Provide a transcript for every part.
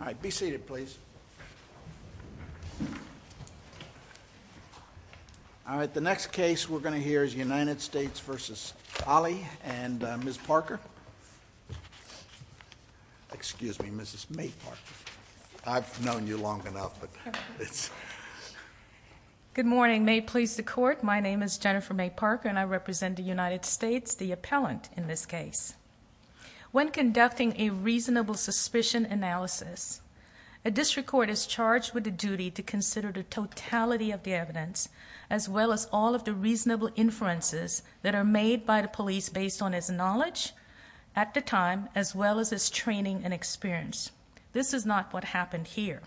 All right. Be seated, please. All right. The next case we're going to hear is United States v. Holley and Ms. Parker. Excuse me, Mrs. May Parker. I've known you long enough, but it's... Good morning. May it please the Court, my name is Jennifer May Parker and I represent the United States, the appellant in this case. When conducting a reasonable suspicion analysis, a district court is charged with the duty to consider the totality of the evidence, as well as all of the reasonable inferences that are made by the police based on its knowledge at the time, as well as its training and experience. This is not what happened here.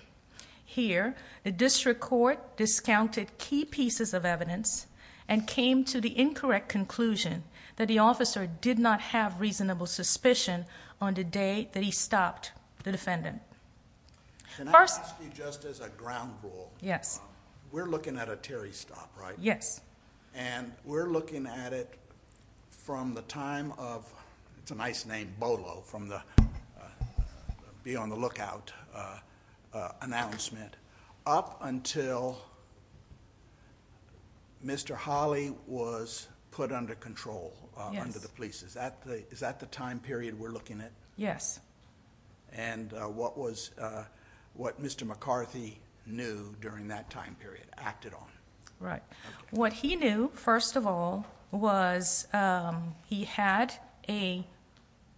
Here, the district court discounted key pieces of evidence and came to the incorrect conclusion that the officer did not have reasonable suspicion on the day that he stopped the defendant. First... Can I ask you just as a ground rule? Yes. We're looking at a Terry stop, right? Yes. And we're looking at it from the time of, it's a nice name, Bolo, from the be on the lookout announcement, up until Mr. Holley was put under control under the police. Yes. Is that the time period we're looking at? Yes. And what Mr. McCarthy knew during that time period, acted on. Right. What he knew, first of all, was he had a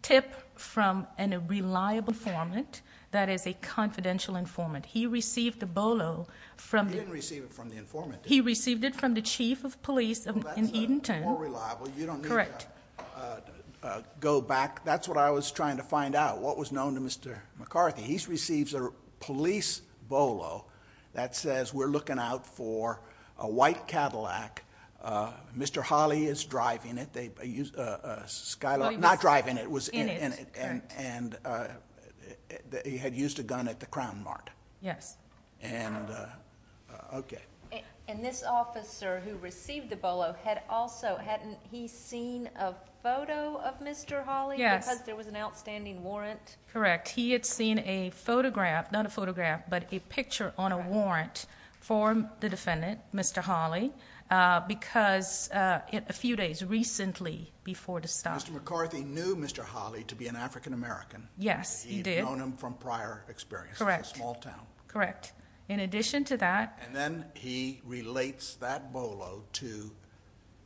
tip from a reliable informant, that is a confidential informant. He received the Bolo from... He didn't receive it from the informant, did he? He received it from the chief of police in Edenton. That's more reliable. Correct. You don't need to go back. That's what I was trying to find out, what was known to Mr. McCarthy. He receives a police Bolo that says, we're looking out for a white Cadillac, Mr. Holley is driving it, Skylar, not driving it, was in it. In it, correct. And he had used a gun at the crown mart. Yes. And, okay. And this officer who received the Bolo had also, hadn't he seen a photo of Mr. Holley? Yes. Because there was an outstanding warrant? Correct. He had seen a photograph, not a photograph, but a picture on a warrant for the defendant, Mr. Holley, because a few days recently before the stop. Mr. McCarthy knew Mr. Holley to be an African American. Yes, he did. He had known him from prior experience. Correct. It's a small town. Correct. In addition to that... And then he relates that Bolo to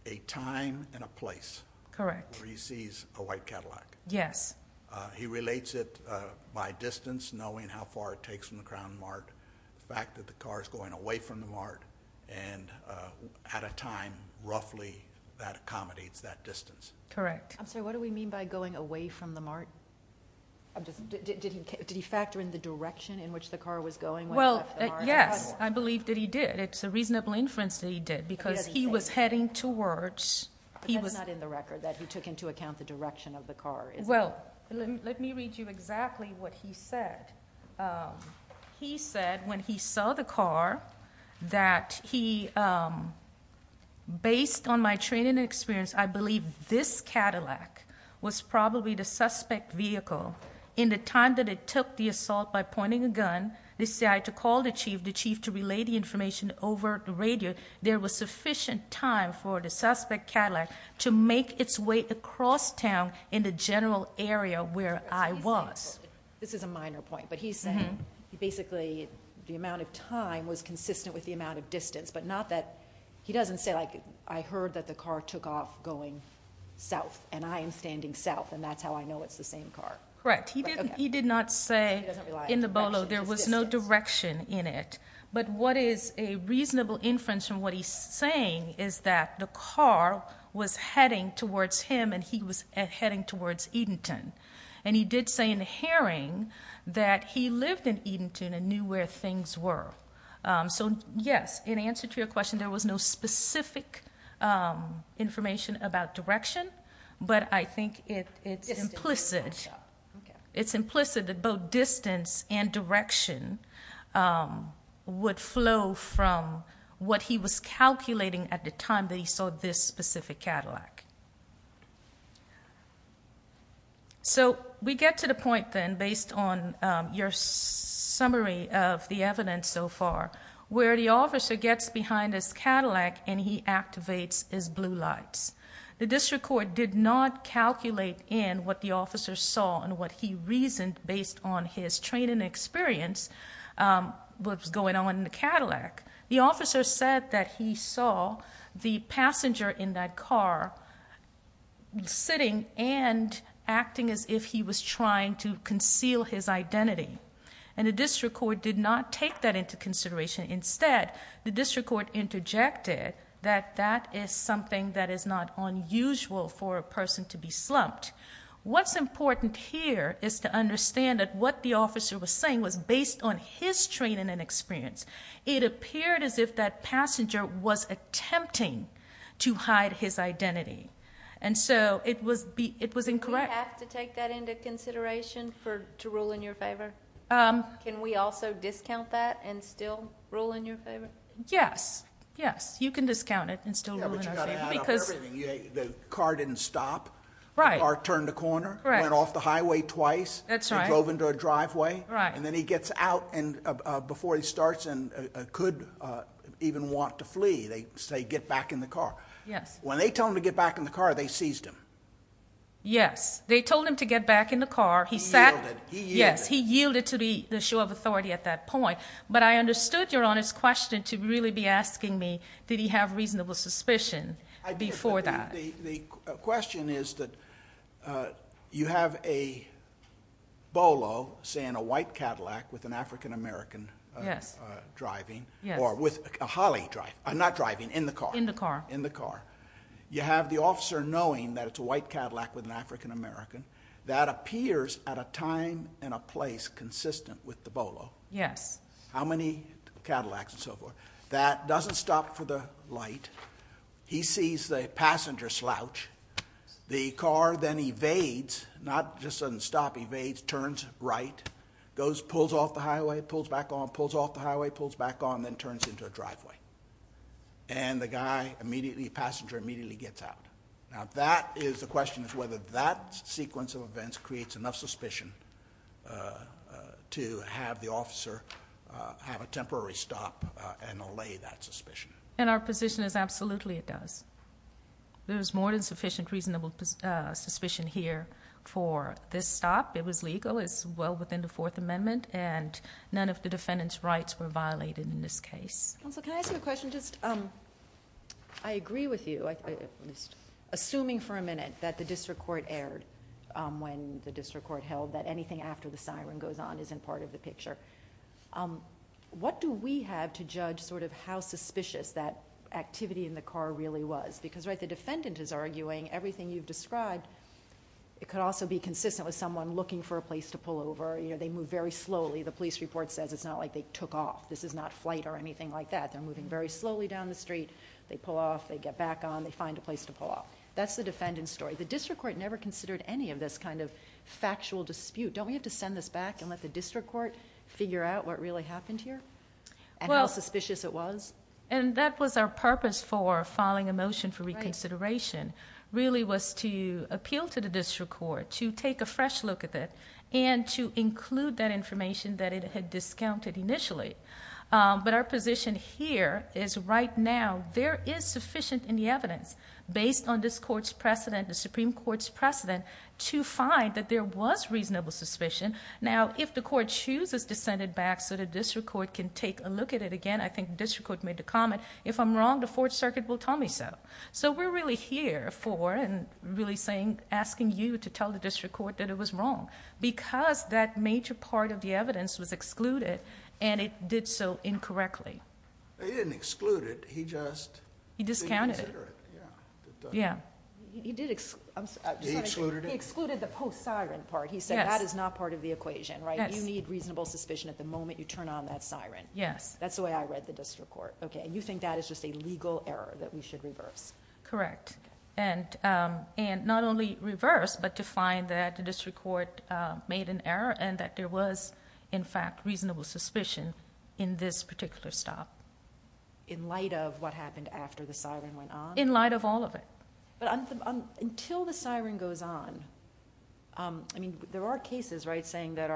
a time and a place. Correct. Where he sees a white Cadillac. Yes. He relates it by distance, knowing how far it takes from the crown mart, the fact that the car is going away from the mart, and at a time, roughly, that accommodates that distance. Correct. I'm sorry, what do we mean by going away from the mart? Did he factor in the direction in which the car was going when he left the mart? Well, yes, I believe that he did. It's a reasonable inference that he did, because he was heading towards... That's not in the record, that he took into account the direction of the car, is it? Well, let me read you exactly what he said. He said, when he saw the car, that he, based on my training and experience, I believe this Cadillac was probably the suspect vehicle. In the time that it took the assault by pointing a gun, the CI to call the chief, the chief to relay the information over the radio, there was sufficient time for the suspect Cadillac to make its way across town in the general area where I was. This is a minor point, but he's saying, basically, the amount of time was consistent with the amount of distance, but not that... He doesn't say, like, I heard that the car took off going south, and I am standing south, and that's how I know it's the same car. Correct. He did not say in the Bolo there was no direction in it. But what is a reasonable inference from what he's saying is that the car was heading towards him, and he was heading towards Edenton. And he did say in Herring that he lived in Edenton and knew where things were. So, yes, in answer to your question, there was no specific information about direction, but I think it's implicit. It's implicit that both distance and direction would flow from what he was calculating at the time that he saw this specific Cadillac. So we get to the point, then, based on your summary of the evidence so far, where the officer gets behind his Cadillac and he activates his blue lights. The district court did not calculate in what the officer saw and what he reasoned based on his training experience, what was going on in the Cadillac. The officer said that he saw the passenger in that car sitting and acting as if he was trying to conceal his identity. And the district court did not take that into consideration. Instead, the district court interjected that that is something that is not unusual for a person to be slumped. What's important here is to understand that what the officer was saying was based on his training and experience. It appeared as if that passenger was attempting to hide his identity. And so it was incorrect. Do we have to take that into consideration to rule in your favor? Can we also discount that and still rule in your favor? Yes. Yes. You can discount it and still rule in our favor. Yeah, but you've got to add up everything. The car didn't stop. Right. The car turned a corner. Went off the highway twice. That's right. He drove into a driveway. Right. And then he gets out before he starts and could even want to flee. They say get back in the car. Yes. When they told him to get back in the car, they seized him. Yes. They told him to get back in the car. He yielded. Yes. He yielded to the show of authority at that point. But I understood Your Honor's question to really be asking me did he have reasonable suspicion before that. The question is that you have a Bolo, say in a white Cadillac with an African American driving. Yes. Or with a Holley driving. Not driving. In the car. In the car. In the car. You have the officer knowing that it's a white Cadillac with an African American. That appears at a time and a place consistent with the Bolo. Yes. How many Cadillacs and so forth. That doesn't stop for the light. He sees the passenger slouch. The car then evades. Not just doesn't stop. Evades. Turns right. Goes, pulls off the highway. Pulls back on. Pulls off the highway. Pulls back on. Then turns into a driveway. And the guy immediately, passenger immediately gets out. Now that is the question is whether that sequence of events creates enough suspicion to have the officer have a temporary stop and allay that suspicion. Our position is absolutely it does. There is more than sufficient reasonable suspicion here for this stop. It was legal. It's well within the Fourth Amendment. None of the defendant's rights were violated in this case. Counsel, can I ask you a question? I agree with you. Assuming for a minute that the district court erred when the district court held that anything after the siren goes on isn't part of the picture. What do we have to judge sort of how suspicious that activity in the car really was? Because the defendant is arguing everything you've described, it could also be consistent with someone looking for a place to pull over. They move very slowly. The police report says it's not like they took off. This is not flight or anything like that. They're moving very slowly down the street. They pull off. They get back on. They find a place to pull off. That's the defendant's story. The district court never considered any of this kind of factual dispute. Don't we have to send this back and let the district court figure out what really happened here and how suspicious it was? And that was our purpose for filing a motion for reconsideration really was to appeal to the district court to take a fresh look at it and to include that information that it had discounted initially. But our position here is right now there is sufficient in the evidence based on this court's precedent, the Supreme Court's precedent, to find that there was reasonable suspicion. Now, if the court chooses to send it back so the district court can take a look at it again, I think the district court made the comment, if I'm wrong, the Fourth Circuit will tell me so. So we're really here for and really asking you to tell the district court that it was wrong because that major part of the evidence was excluded and it did so incorrectly. He didn't exclude it. He just didn't consider it. He discounted it. Yeah. He excluded the post-siren part. He said that is not part of the equation. You need reasonable suspicion at the moment you turn on that siren. Yes. That's the way I read the district court. Okay. And you think that is just a legal error that we should reverse? Correct. And not only reverse but to find that the district court made an error and that there was, in fact, reasonable suspicion in this particular stop. In light of what happened after the siren went on? In light of all of it. But until the siren goes on, I mean, there are cases, right, saying that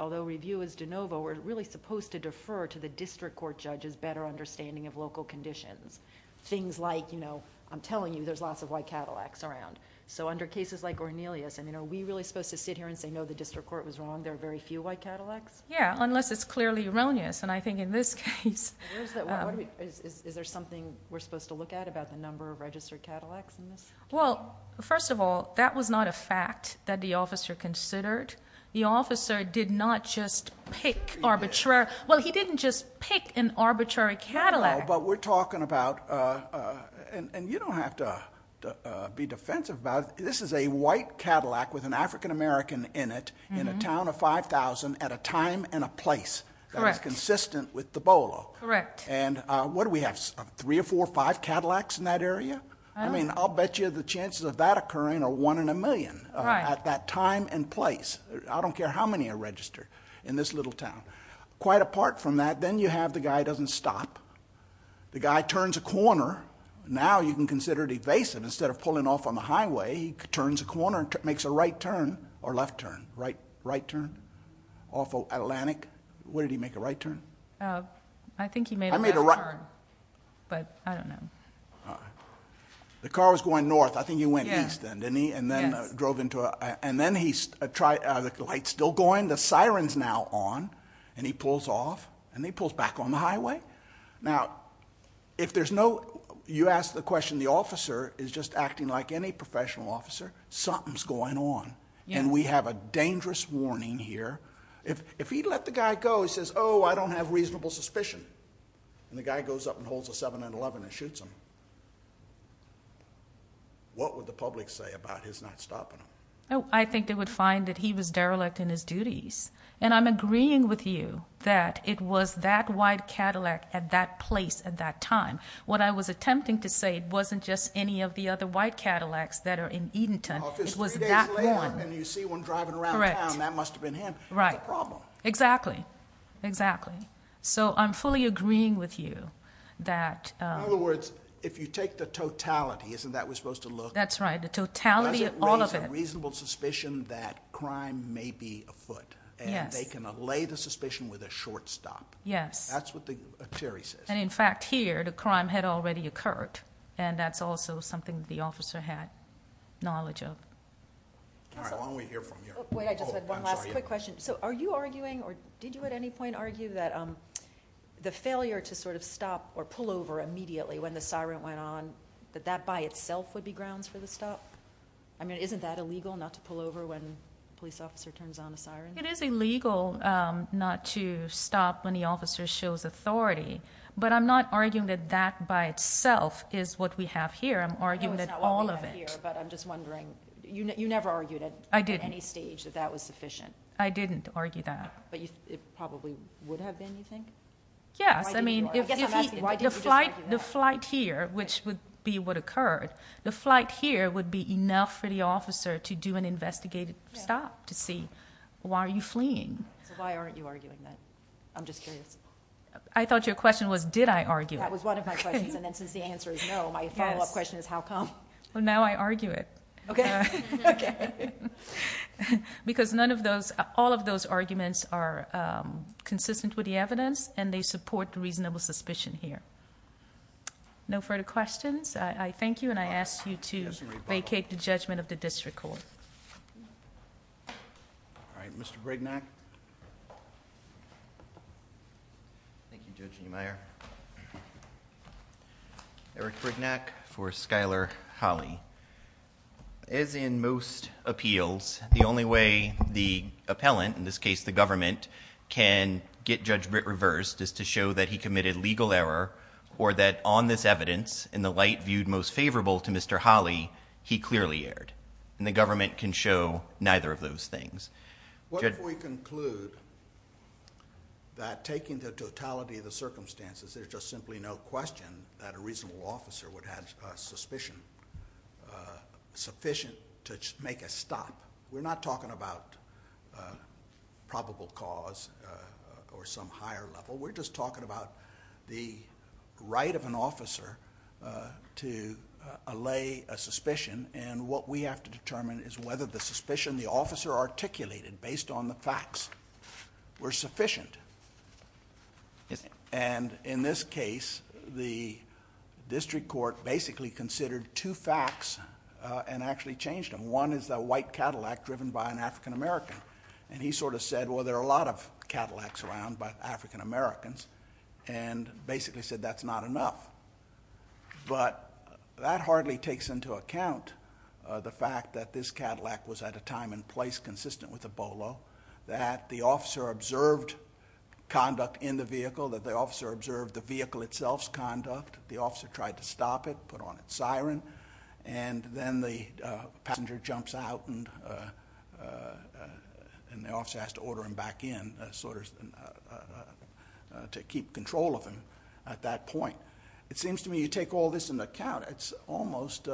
although review is de novo, we're really supposed to defer to the district court judge's better understanding of local conditions. Things like, I'm telling you, there's lots of white Cadillacs around. So under cases like Cornelius, are we really supposed to sit here and say, no, the district court was wrong, there are very few white Cadillacs? Yeah, unless it's clearly erroneous, and I think in this case... Is there something we're supposed to look at about the number of registered Cadillacs in this? Well, first of all, that was not a fact that the officer considered. The officer did not just pick arbitrary... Well, he didn't just pick an arbitrary Cadillac. No, but we're talking about, and you don't have to be defensive about it, this is a white Cadillac with an African-American in it in a town of 5,000 at a time and a place that is consistent with the Bolo. Correct. And what do we have, three or four or five Cadillacs in that area? I mean, I'll bet you the chances of that occurring are one in a million at that time and place. I don't care how many are registered in this little town. Quite apart from that, then you have the guy who doesn't stop. The guy turns a corner. Now you can consider it evasive. Instead of pulling off on the highway, he turns a corner and makes a right turn or left turn, right turn off of Atlantic. Where did he make a right turn? I think he made a left turn, but I don't know. The car was going north. I think he went east then, didn't he? Yes. And then he tried, the light's still going, the siren's now on, and he pulls off and he pulls back on the highway. Now, if there's no, you asked the question, the officer is just acting like any professional officer, something's going on. And we have a dangerous warning here. If he'd let the guy go, he says, oh, I don't have reasonable suspicion. And the guy goes up and holds a 7-11 and shoots him. What would the public say about his not stopping him? I think they would find that he was derelict in his duties. And I'm agreeing with you that it was that white Cadillac at that place at that time. What I was attempting to say, it wasn't just any of the other white Cadillacs that are in Edenton. Oh, if it's three days later and you see one driving around town, that must have been him. Correct. That's a problem. Exactly. Exactly. So I'm fully agreeing with you that. In other words, if you take the totality, isn't that what we're supposed to look at? That's right. The totality of all of it. Does it raise a reasonable suspicion that crime may be afoot? Yes. And they can allay the suspicion with a short stop. Yes. That's what Terry says. And, in fact, here, the crime had already occurred. And that's also something the officer had knowledge of. All right. Wait, I just had one last quick question. Oh, I'm sorry. Are you arguing or did you at any point argue that the failure to sort of stop or pull over immediately when the siren went on, that that by itself would be grounds for the stop? I mean, isn't that illegal not to pull over when a police officer turns on a siren? It is illegal not to stop when the officer shows authority. But I'm not arguing that that by itself is what we have here. I'm arguing that all of it. No, it's not what we have here. But I'm just wondering. You never argued at any stage that that was sufficient. I didn't argue that. But it probably would have been, you think? Yes. I mean, the flight here, which would be what occurred, the flight here would be enough for the officer to do an investigative stop to see why are you fleeing. So why aren't you arguing that? I'm just curious. I thought your question was did I argue it. That was one of my questions. And then since the answer is no, my follow-up question is how come? Well, now I argue it. Okay. Because none of those, all of those arguments are consistent with the evidence and they support the reasonable suspicion here. No further questions? I thank you and I ask you to vacate the judgment of the district court. All right. Mr. Brignac. Thank you, Judge Niemeyer. Eric Brignac for Schuyler Holly. As in most appeals, the only way the appellant, in this case the government, can get Judge Britt reversed is to show that he committed legal error or that on this evidence in the light viewed most favorable to Mr. Holly, he clearly erred. And the government can show neither of those things. What if we conclude that taking the totality of the circumstances, there's just simply no question that a reasonable officer would have suspicion sufficient to make a stop? We're not talking about probable cause or some higher level. We're just talking about the right of an officer to allay a suspicion. And what we have to determine is whether the suspicion the officer articulated based on the facts were sufficient. Yes, sir. And in this case, the district court basically considered two facts and actually changed them. One is the white Cadillac driven by an African American. And he sort of said, well, there are a lot of Cadillacs around, but African Americans, and basically said that's not enough. But that hardly takes into account the fact that this Cadillac was at a time and place consistent with the Bolo, that the officer observed conduct in the vehicle, that the officer observed the vehicle itself's conduct, the officer tried to stop it, put on its siren, and then the passenger jumps out and the officer has to order him back in to keep control of him at that point. It seems to me you take all this into account, and it's almost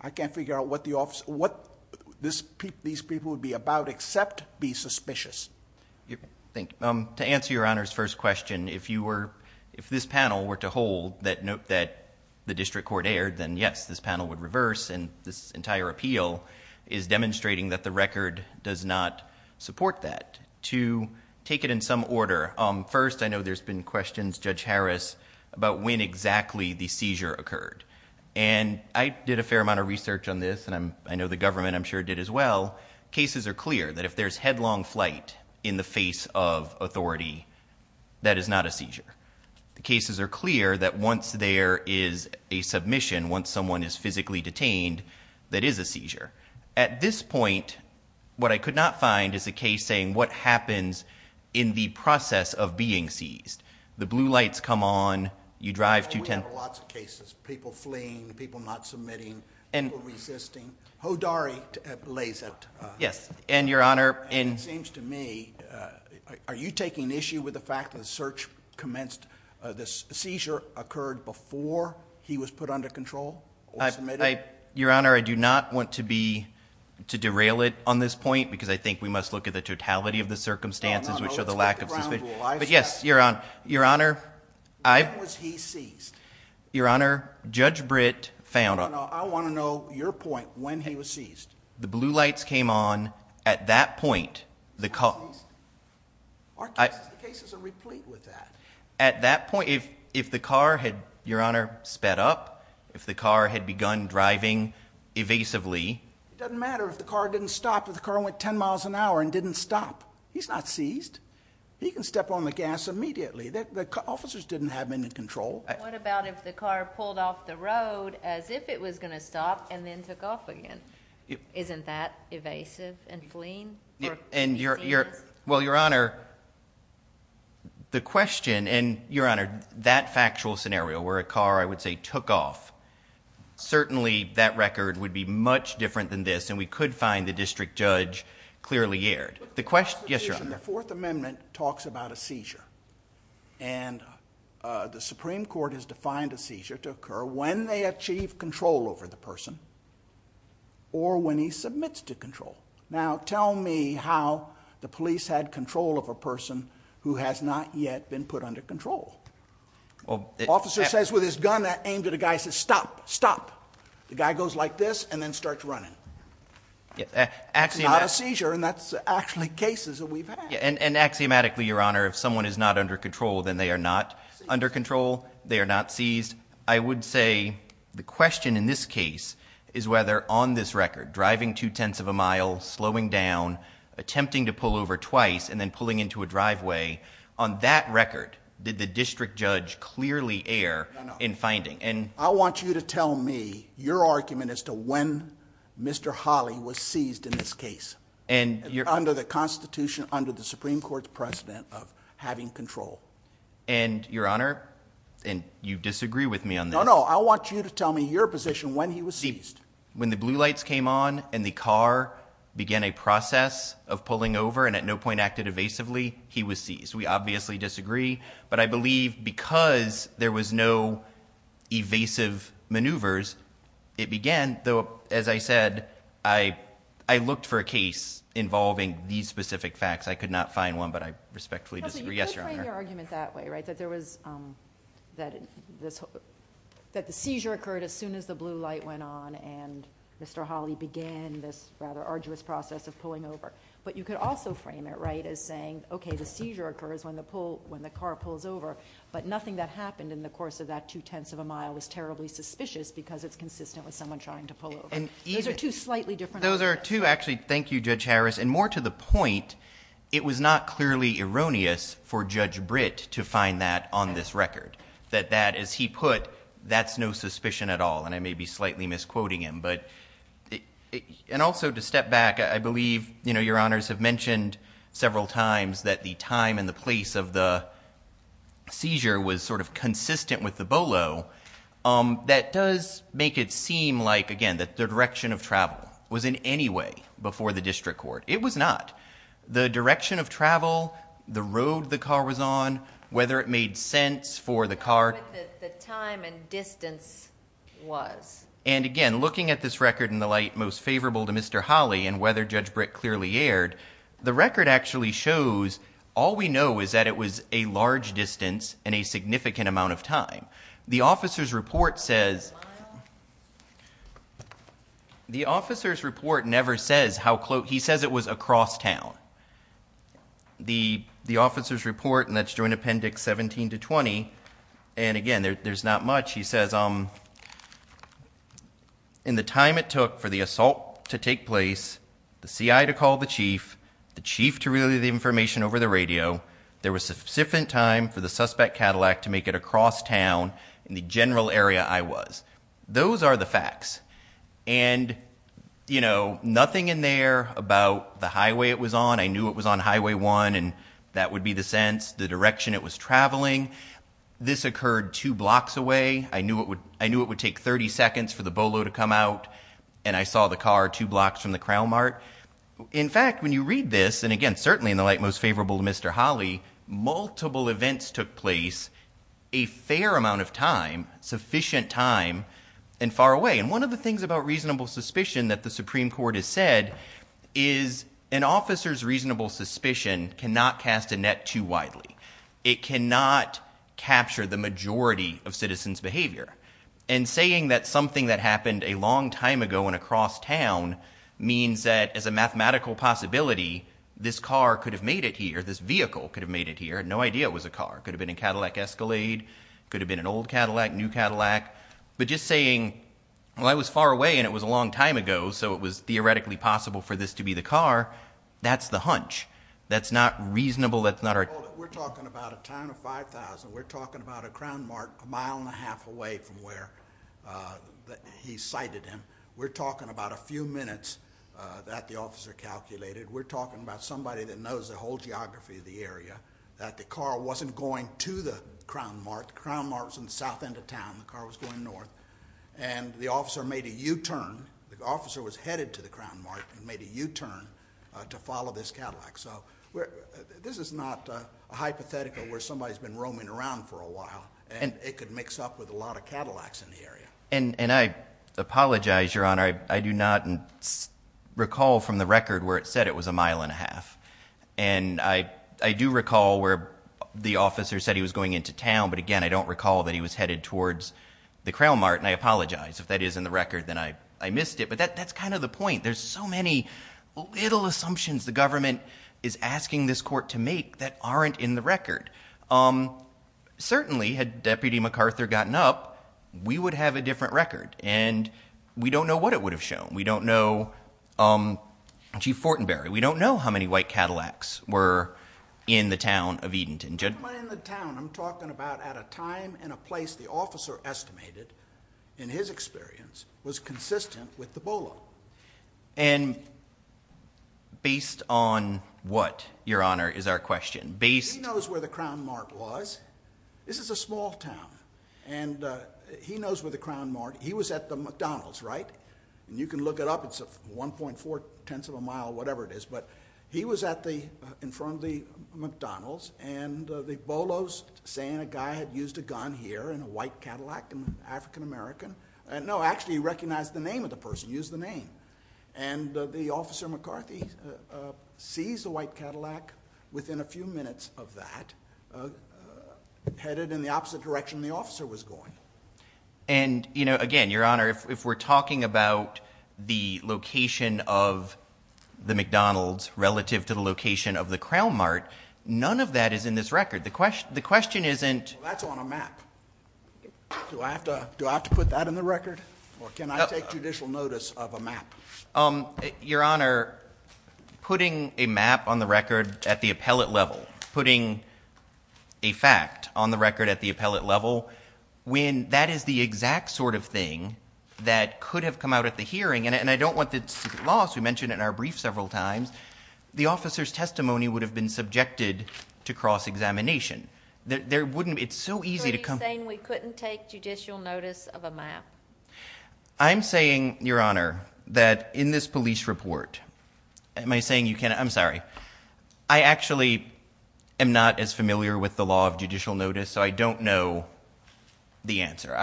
I can't figure out what these people would be about except be suspicious. Thank you. To answer Your Honor's first question, if this panel were to hold that the district court erred, then yes, this panel would reverse, and this entire appeal is demonstrating that the record does not support that. To take it in some order, first, I know there's been questions, Judge Harris, about when exactly the seizure occurred. And I did a fair amount of research on this, and I know the government I'm sure did as well. Cases are clear that if there's headlong flight in the face of authority, that is not a seizure. The cases are clear that once there is a submission, once someone is physically detained, that is a seizure. At this point, what I could not find is a case saying what happens in the process of being seized. The blue lights come on. You drive 210. We have lots of cases, people fleeing, people not submitting, people resisting. Hodari lays it. Yes, and Your Honor. It seems to me, are you taking issue with the fact that the search commenced, the seizure occurred before he was put under control or submitted? Your Honor, I do not want to derail it on this point because I think we must look at the totality of the circumstances which are the lack of suspicion. But, yes, Your Honor. When was he seized? Your Honor, Judge Britt found out. I want to know your point when he was seized. The blue lights came on. At that point, the car. He was seized? Our cases are replete with that. At that point, if the car had, Your Honor, sped up, if the car had begun driving evasively. It doesn't matter if the car didn't stop, if the car went 10 miles an hour and didn't stop. He's not seized. He can step on the gas immediately. The officers didn't have him in control. What about if the car pulled off the road as if it was going to stop and then took off again? Isn't that evasive and fleeing? Well, Your Honor, the question and, Your Honor, that factual scenario where a car, I would say, took off, certainly that record would be much different than this and we could find the district judge clearly aired. Yes, Your Honor. The Fourth Amendment talks about a seizure. And the Supreme Court has defined a seizure to occur when they achieve control over the person or when he submits to control. Now, tell me how the police had control of a person who has not yet been put under control. An officer says with his gun aimed at a guy, he says, Stop, stop. The guy goes like this and then starts running. It's not a seizure, and that's actually cases that we've had. And axiomatically, Your Honor, if someone is not under control, then they are not under control, they are not seized. I would say the question in this case is whether on this record, driving two-tenths of a mile, slowing down, attempting to pull over twice and then pulling into a driveway, No, no. I want you to tell me your argument as to when Mr. Hawley was seized in this case under the Constitution, under the Supreme Court's precedent of having control. And, Your Honor, and you disagree with me on this. No, no. I want you to tell me your position when he was seized. When the blue lights came on and the car began a process of pulling over and at no point acted evasively, he was seized. We obviously disagree, but I believe because there was no evasive maneuvers, it began, though, as I said, I looked for a case involving these specific facts. I could not find one, but I respectfully disagree. Yes, Your Honor. No, but you could frame your argument that way, right, that there was, that the seizure occurred as soon as the blue light went on and Mr. Hawley began this rather arduous process of pulling over. But you could also frame it, right, as saying, okay, the seizure occurs when the car pulls over, but nothing that happened in the course of that two-tenths of a mile was terribly suspicious because it's consistent with someone trying to pull over. Those are two slightly different arguments. Those are two, actually, thank you, Judge Harris, and more to the point, it was not clearly erroneous for Judge Britt to find that on this record, that that, as he put, that's no suspicion at all, and I may be slightly misquoting him. But, and also to step back, I believe, you know, Your Honors have mentioned several times that the time and the place of the seizure was sort of consistent with the bolo. That does make it seem like, again, that the direction of travel was in any way before the district court. It was not. The direction of travel, the road the car was on, whether it made sense for the car... The time and distance was. And, again, looking at this record in the light most favorable to Mr. Holley and whether Judge Britt clearly erred, the record actually shows all we know is that it was a large distance and a significant amount of time. The officer's report says... The officer's report never says how close... He says it was across town. The officer's report, and that's Joint Appendix 17 to 20, and, again, there's not much, he says, in the time it took for the assault to take place, the CI to call the chief, the chief to relay the information over the radio, there was sufficient time for the suspect Cadillac to make it across town in the general area I was. Those are the facts. And, you know, nothing in there about the highway it was on. I knew it was on Highway 1, and that would be the sense, the direction it was traveling. This occurred two blocks away. I knew it would take 30 seconds for the Bolo to come out, and I saw the car two blocks from the Crown Mart. In fact, when you read this, and, again, certainly in the light most favorable to Mr. Holley, multiple events took place a fair amount of time, sufficient time, and far away. And one of the things about reasonable suspicion that the Supreme Court has said is an officer's reasonable suspicion cannot cast a net too widely. It cannot capture the majority of citizens' behavior. And saying that something that happened a long time ago and across town means that, as a mathematical possibility, this car could have made it here, this vehicle could have made it here, no idea it was a car. Could have been a Cadillac Escalade, could have been an old Cadillac, new Cadillac. But just saying, well, I was far away, and it was a long time ago, so it was theoretically possible for this to be the car, that's the hunch. That's not reasonable, that's not our... We're talking about a town of 5,000. We're talking about a crown mark a mile and a half away from where he cited him. We're talking about a few minutes that the officer calculated. We're talking about somebody that knows the whole geography of the area, that the car wasn't going to the crown mark. The crown mark was on the south end of town. The car was going north. And the officer made a U-turn. The officer was headed to the crown mark and made a U-turn to follow this Cadillac. So this is not a hypothetical where somebody's been roaming around for a while, and it could mix up with a lot of Cadillacs in the area. And I apologize, Your Honor, I do not recall from the record where it said it was a mile and a half. And I do recall where the officer said he was going into town, but again, I don't recall that he was headed towards the crown mark, and I apologize. If that is in the record, then I missed it. But that's kind of the point. There's so many little assumptions the government is asking this court to make that aren't in the record. Certainly, had Deputy MacArthur gotten up, we would have a different record, and we don't know what it would have shown. We don't know Chief Fortenberry. We don't know how many white Cadillacs were in the town of Edenton. I'm talking about at a time and a place the officer estimated, in his experience, was consistent with the BOLO. And based on what, Your Honor, is our question? He knows where the crown mark was. This is a small town, and he knows where the crown mark... He was at the McDonald's, right? And you can look it up. It's 1.4 tenths of a mile, whatever it is. But he was in front of the McDonald's, and the BOLO's saying a guy had used a gun here, and a white Cadillac, an African-American. No, actually, he recognized the name of the person, used the name. And the officer, McCarthy, sees the white Cadillac within a few minutes of that, headed in the opposite direction the officer was going. And, you know, again, Your Honor, if we're talking about the location of the McDonald's relative to the location of the crown mark, none of that is in this record. The question isn't... That's on a map. Do I have to put that in the record? Or can I take judicial notice of a map? Your Honor, putting a map on the record at the appellate level, putting a fact on the record at the appellate level, when that is the exact sort of thing that could have come out at the hearing, and I don't want this to get lost. We mentioned it in our brief several times. The officer's testimony would have been subjected to cross-examination. There wouldn't... It's so easy to... You're saying we couldn't take judicial notice of a map. I'm saying, Your Honor, that in this police report... Am I saying you can't...? I'm sorry. I actually am not as familiar with the law of judicial notice, so I don't know the answer.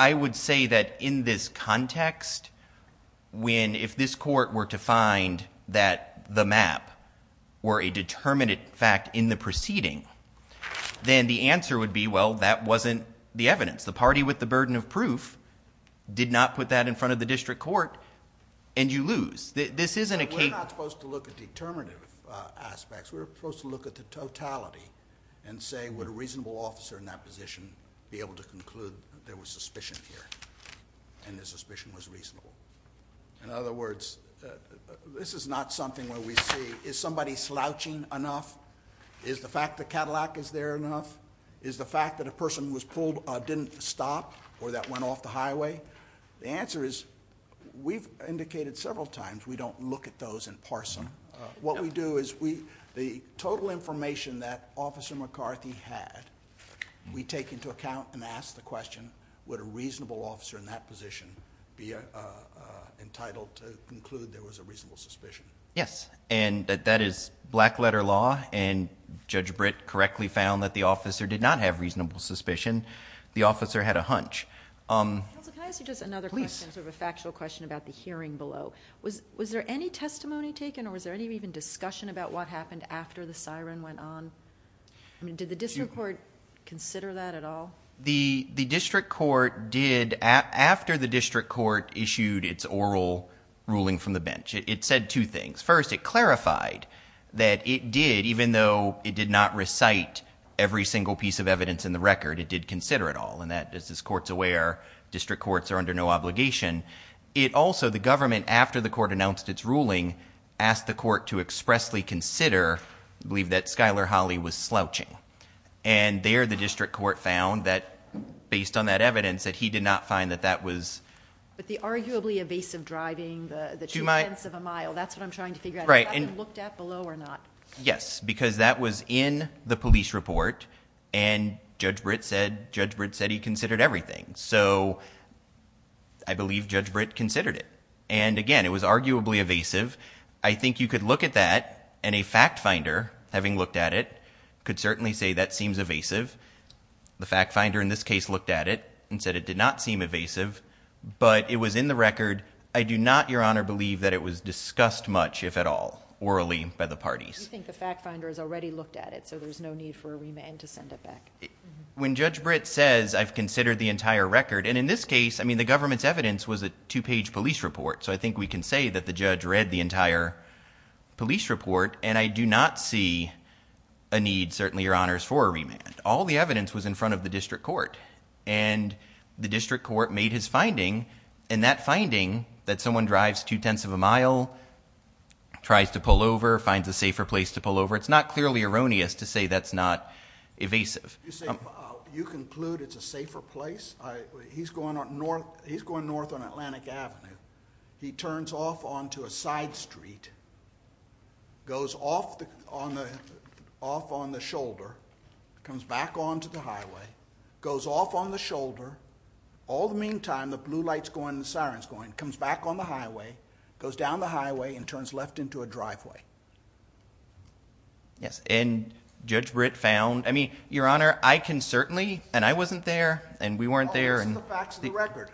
I would say that in this context, when if this court were to find that the map were a determinate fact in the proceeding, then the answer would be, well, that wasn't the evidence. The party with the burden of proof did not put that in front of the district court, and you lose. This isn't a case... We're not supposed to look at determinative aspects. We're supposed to look at the totality and say, would a reasonable officer in that position be able to conclude that there was suspicion here and the suspicion was reasonable? In other words, this is not something where we say, is somebody slouching enough? Is the fact that Cadillac is there enough? Is the fact that a person was pulled didn't stop or that went off the highway? The answer is, we've indicated several times we don't look at those in parson. What we do is, the total information that Officer McCarthy had, we take into account and ask the question, would a reasonable officer in that position be entitled to conclude there was a reasonable suspicion? Yes, and that is black-letter law and Judge Britt correctly found that the officer did not have reasonable suspicion. The officer had a hunch. Can I ask you just another question, sort of a factual question about the hearing below? Was there any testimony taken or was there any discussion about what happened after the siren went on? Did the district court consider that at all? The district court did, after the district court issued its oral ruling from the bench, it said two things. First, it clarified that it did, even though it did not recite every single piece of evidence in the record, it did consider it all, and as this court's aware, district courts are under no obligation. It also, the government, after the court announced its ruling, asked the court to expressly consider, I believe that Skylar Holly was slouching, and there the district court found that, based on that evidence, that he did not find that that was... But the arguably evasive driving, the two tenths of a mile, that's what I'm trying to figure out, if that was looked at below or not. Yes, because that was in the police report, and Judge Britt said, Judge Britt said he considered everything, so I believe Judge Britt considered it, and again, it was arguably evasive. I think you could look at that, and a fact finder, having looked at it, could certainly say that seems evasive. The fact finder in this case looked at it and said it did not seem evasive, but it was in the record. I do not, Your Honor, believe that it was discussed much, if at all, orally, by the parties. You think the fact finder has already looked at it, so there's no need for a remand to send it back? When Judge Britt says, I've considered the entire record, and in this case, I mean, the government's evidence was a two-page police report, so I think we can say that the judge read the entire police report, and I do not see a need, certainly, Your Honors, for a remand. All the evidence was in front of the district court, and the district court made his finding, and that finding, that someone drives two-tenths of a mile, tries to pull over, finds a safer place to pull over, it's not clearly erroneous to say that's not evasive. You conclude it's a safer place? He's going north on Atlantic Avenue. He turns off onto a side street, goes off on the shoulder, comes back onto the highway, goes off on the shoulder, all the meantime, the blue light's going, the siren's going, comes back on the highway, goes down the highway, and turns left into a driveway. Yes, and Judge Britt found, I mean, Your Honor, I can certainly, and I wasn't there, and we weren't there, and... Well, those are the facts of the record.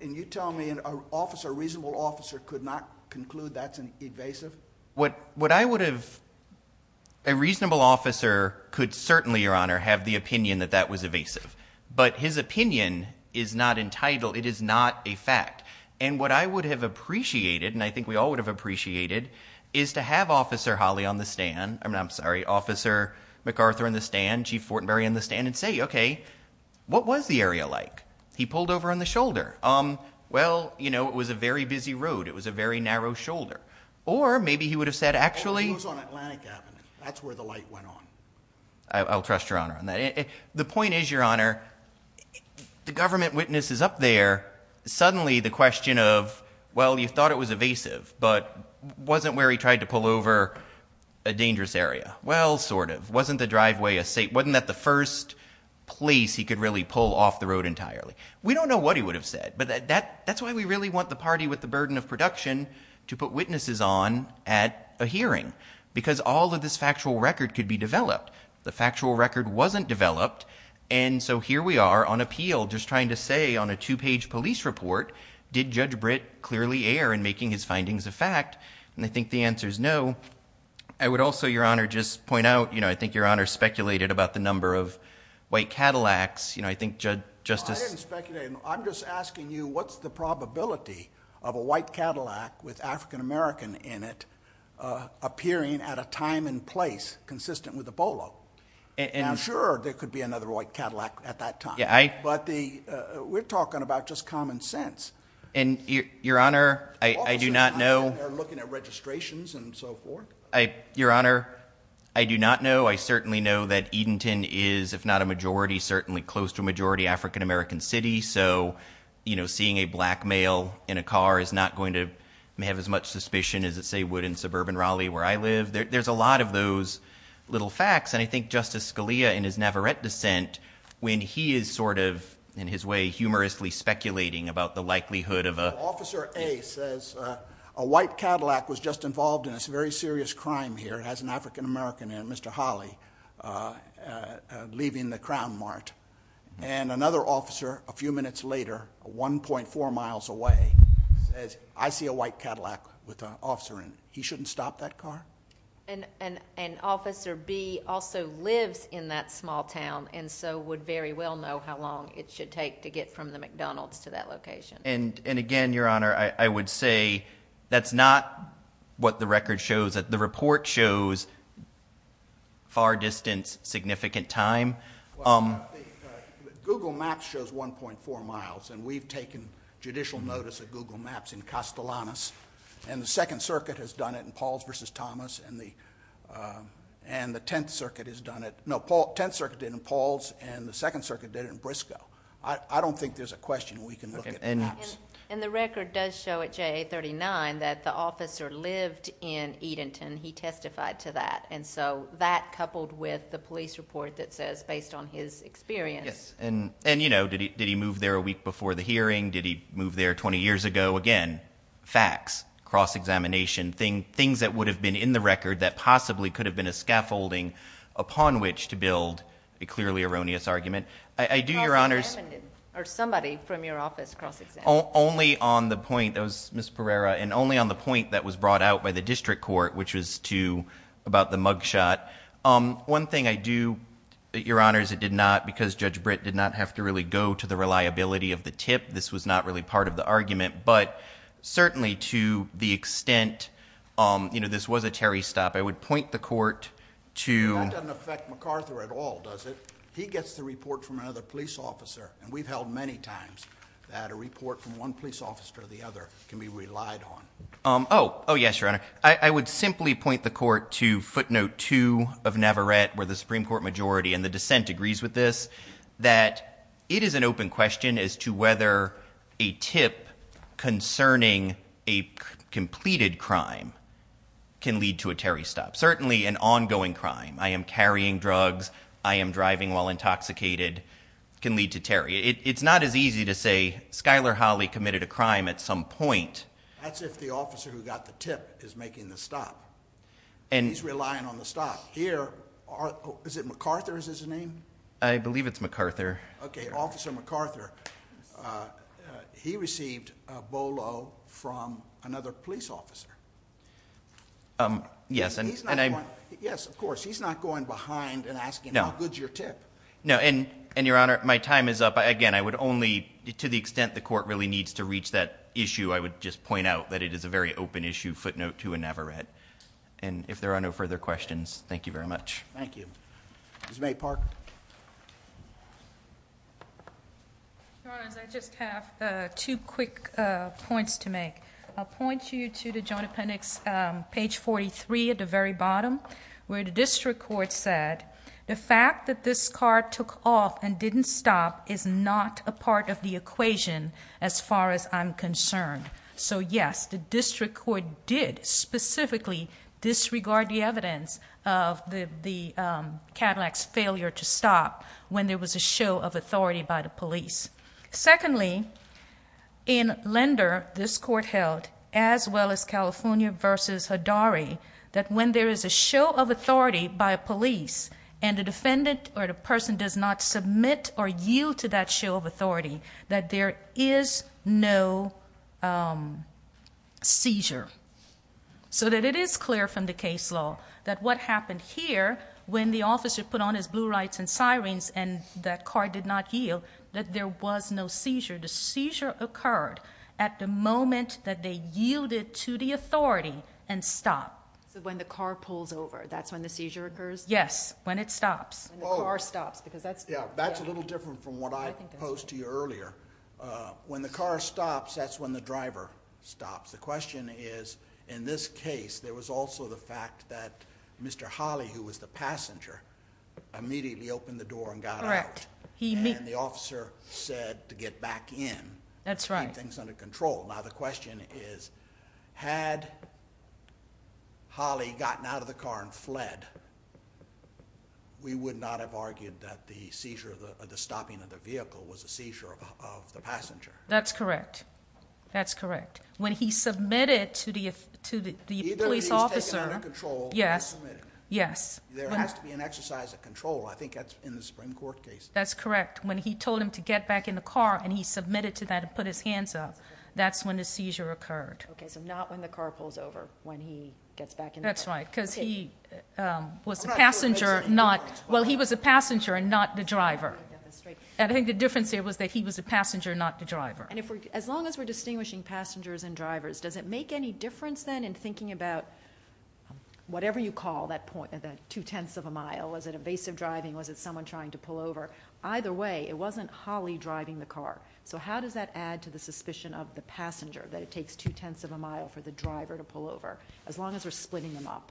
And you tell me an officer, a reasonable officer, could not conclude that's evasive? What I would have, if a reasonable officer could certainly, Your Honor, have the opinion that that was evasive. But his opinion is not entitled, it is not a fact. And what I would have appreciated, and I think we all would have appreciated, is to have Officer Holly on the stand, I'm sorry, Officer MacArthur on the stand, Chief Fortenberry on the stand, and say, okay, what was the area like? He pulled over on the shoulder. Well, you know, it was a very busy road, it was a very narrow shoulder. Or, maybe he would have said, actually... It was on Atlantic Avenue, that's where the light went on. I'll trust Your Honor on that. The point is, Your Honor, the government witness is up there, suddenly the question of, well, you thought it was evasive, but wasn't where he tried to pull over a dangerous area? Well, sort of. Wasn't the driveway a safe, wasn't that the first place he could really pull off the road entirely? We don't know what he would have said, but that's why we really want the party with the burden of production to put witnesses on at a hearing. Because all of this factual record could be developed. The factual record wasn't developed, and so here we are, on appeal, just trying to say on a two-page police report, did Judge Britt clearly err in making his findings a fact? And I think the answer's no. I would also, Your Honor, just point out, you know, I think Your Honor speculated about the number of white Cadillacs, you know, I think Justice... No, I didn't speculate. I'm just asking you, what's the probability of a white Cadillac with African-American in it, uh, appearing at a time and place consistent with Ebola? And I'm sure there could be another white Cadillac at that time. Yeah, I... But the, uh, we're talking about just common sense. And Your Honor, I do not know... They're looking at registrations and so forth. I, Your Honor, I do not know. I certainly know that Edenton is, if not a majority, certainly close to a majority African-American city, so, you know, seeing a black male in a car is not going to have as much suspicion as it, say, would in suburban Raleigh where I live. There's a lot of those little facts, and I think Justice Scalia in his Navarrette dissent, when he is sort of, in his way, humorously speculating about the likelihood of a... Officer A says, uh, a white Cadillac was just involved in this very serious crime here. It has an African-American in it, Mr. Hawley, uh, uh, leaving the Crown Mart. And another officer, a few minutes later, 1.4 miles away, says, I see a white Cadillac with an officer in it. He shouldn't stop that car? And Officer B also lives in that small town and so would very well know how long it should take to get from the McDonald's to that location. And again, Your Honor, I would say that's not what the record shows. The report shows far distance, significant time. Google Maps shows 1.4 miles, and we've taken judicial notice of Google Maps in Castellanos, and the Second Circuit has done it in Pauls v. Thomas, and the, uh, and the Tenth Circuit has done it, no, Tenth Circuit did it in Pauls, and the Second Circuit did it in Briscoe. I don't think there's a question we can look at the maps. And the record does show at JA39 that the officer lived in Edenton. He testified to that. And so, that coupled with the police report that says, based on his experience. Yes, and, you know, did he move there a week before the hearing? Did he move there 20 years ago? Again, facts, cross-examination, things that would have been in the record that possibly could have been a scaffolding upon which to build a clearly erroneous argument. I do, Your Honors, cross-examining, or somebody from your office cross-examining. Only on the point, that was Ms. Pereira, and only on the point that was brought out by the District Court, which was to, about the mugshot. One thing I do, Your Honors, it did not, because Judge Britt did not have to really go to the reliability of the tip, this was not really part of the argument, but certainly to the extent, you know, this was a Terry stop, I would point the Court to... That doesn't affect MacArthur at all, does it? He gets the report from another police officer, and we've held many times that a report from one police officer to the other can be relied on. Oh, yes, Your Honor. I would simply point the Court to footnote 2 of Navarette, where the Supreme Court majority and the dissent agrees with this, that it is an open question as to whether a tip concerning a completed crime can lead to a Terry stop. Certainly an ongoing crime, I am carrying drugs, I am driving while intoxicated, can lead to Terry. It's not as easy to say, Skyler Hawley committed a crime at some point. That's if the officer who got the tip is making the stop. He's relying on the stop. Here, is it MacArthur, is his name? I believe it's MacArthur. Okay, Officer MacArthur, he received a bolo from another police officer. Yes, and I'm... Yes, of course, he's not going behind and asking, how good's your tip? No, and Your Honor, my time is up. Again, I would only, to the extent the court really needs to reach that issue, I would just point out that it is a very open issue, footnote to a Navarette. And if there are no further questions, thank you very much. Thank you. Ms. May Park. Your Honors, I just have two quick points to make. I'll point you to the Joint Appendix, page 43 at the very bottom, where the District Court said, the fact that this car took off and didn't stop is not a part of the equation, as far as I'm concerned. So yes, the District Court did specifically disregard the evidence of the Cadillac's failure to stop when there was a show of authority by the police. Secondly, in Lender, this court held, as well as California v. Haddari, that when there is a show of authority by a police, and the defendant or the person does not submit or yield to that show of authority, that there is no seizure. So that it is clear from the case law that what happened here, when the officer put on his blue lights and sirens and that car did not yield, that there was no seizure. The seizure occurred at the moment that they yielded to the authority and stopped. So when the car pulls over, that's when the seizure occurs? Yes, when it stops. When the car stops. That's a little different from what I posed to you earlier. When the car stops, that's when the driver stops. The question is, in this case there was also the fact that Mr. Holley, who was the passenger, immediately opened the door and got out. And the officer said to get back in. That's right. To keep things under control. Now the question is, had Holley gotten out of the car and fled, we would not have argued that the seizure, the stopping of the vehicle was a seizure of the passenger. That's correct. That's correct. When he submitted to the police officer. Either he's taken out of control or he's submitted. Yes. There has to be an exercise of control. I think that's in the Supreme Court case. That's correct. When he told him to get back in the car and he submitted to that and put his hands up, that's when the seizure occurred. Okay, so not when the car pulls over when he gets back in the car. That's right. Because he was a passenger and not the driver. I think the difference here was that he was a passenger and not the driver. And as long as we're distinguishing passengers and drivers, does it make any difference then in thinking about whatever you call that two-tenths of a mile. Was it evasive driving? Was it someone trying to pull over? driving the car. So how does that add to the suspicion of the passenger? That it takes two-tenths of a mile for the driver to pull over? As long as we're splitting them up.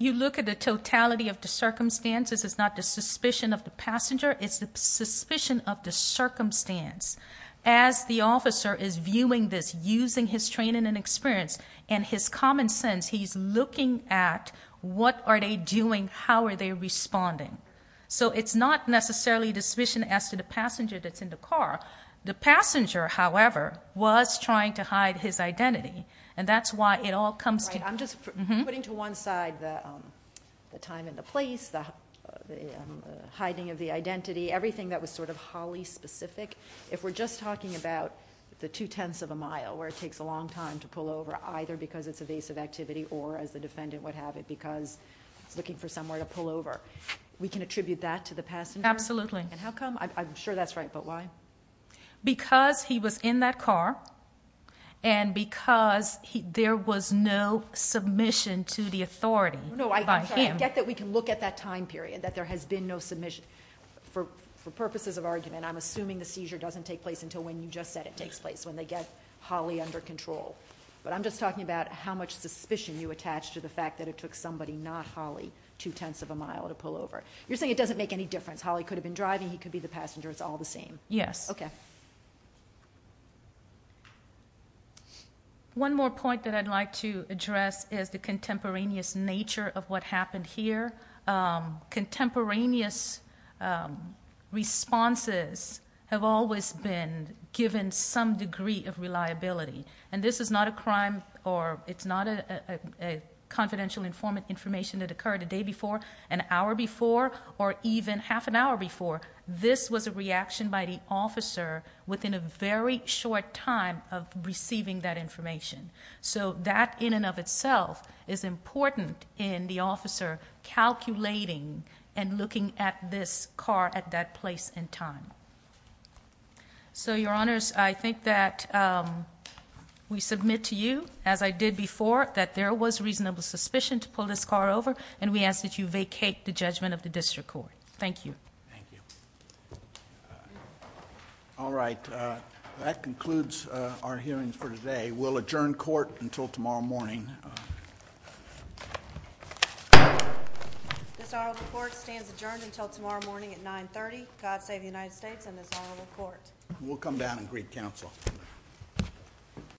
You look at the totality of the circumstances. It's not the suspicion of the passenger. It's the suspicion of the circumstance. As the officer is viewing this, using his training and experience and his common sense, he's looking at what are they doing? How are they responding? So it's not necessarily the suspicion as to the passenger that's in the car. The passenger, however, was trying to hide his identity. And that's why it all comes to... I'm just putting to one side the time and the place, the hiding of the identity, everything that was sort of Holly-specific. If we're just talking about the two-tenths of a mile, where it takes a long time to pull over, either because it's evasive activity or, as the defendant would have it, because he's looking for somewhere to pull over, we can attribute that to the passenger? Absolutely. And how come? I'm sure that's right, but why? Because he was in that car, and because there was no submission to the authority by him. No, I get that we can look at that time period, that there has been no submission. For purposes of argument, I'm assuming the seizure doesn't take place until when you just said it takes place, when they get Holly under control. But I'm just talking about how much suspicion you attach to the fact that it took somebody, not Holly, two-tenths of a mile to pull over. You're saying it doesn't make any difference. Holly could have been the passenger. It's all the same. Yes. One more point that I'd like to address is the contemporaneous nature of what happened here. Contemporaneous responses have always been given some degree of reliability. And this is not a crime, or it's not a confidential information that occurred a day before, an hour before, or even half an hour before. This was a reaction by the officer within a very short time of receiving that information. So that, in and of itself, is important in the officer calculating and looking at this car at that place and time. So, Your Honors, I think that we submit to you, as I did before, that there was reasonable suspicion to pull this car over, and we ask that you do so. Thank you. Thank you. All right. That concludes our hearings for today. We'll adjourn court until tomorrow morning. This honorable court stands adjourned until tomorrow morning at 9.30. God save the United States and this honorable court. We'll come down and greet counsel.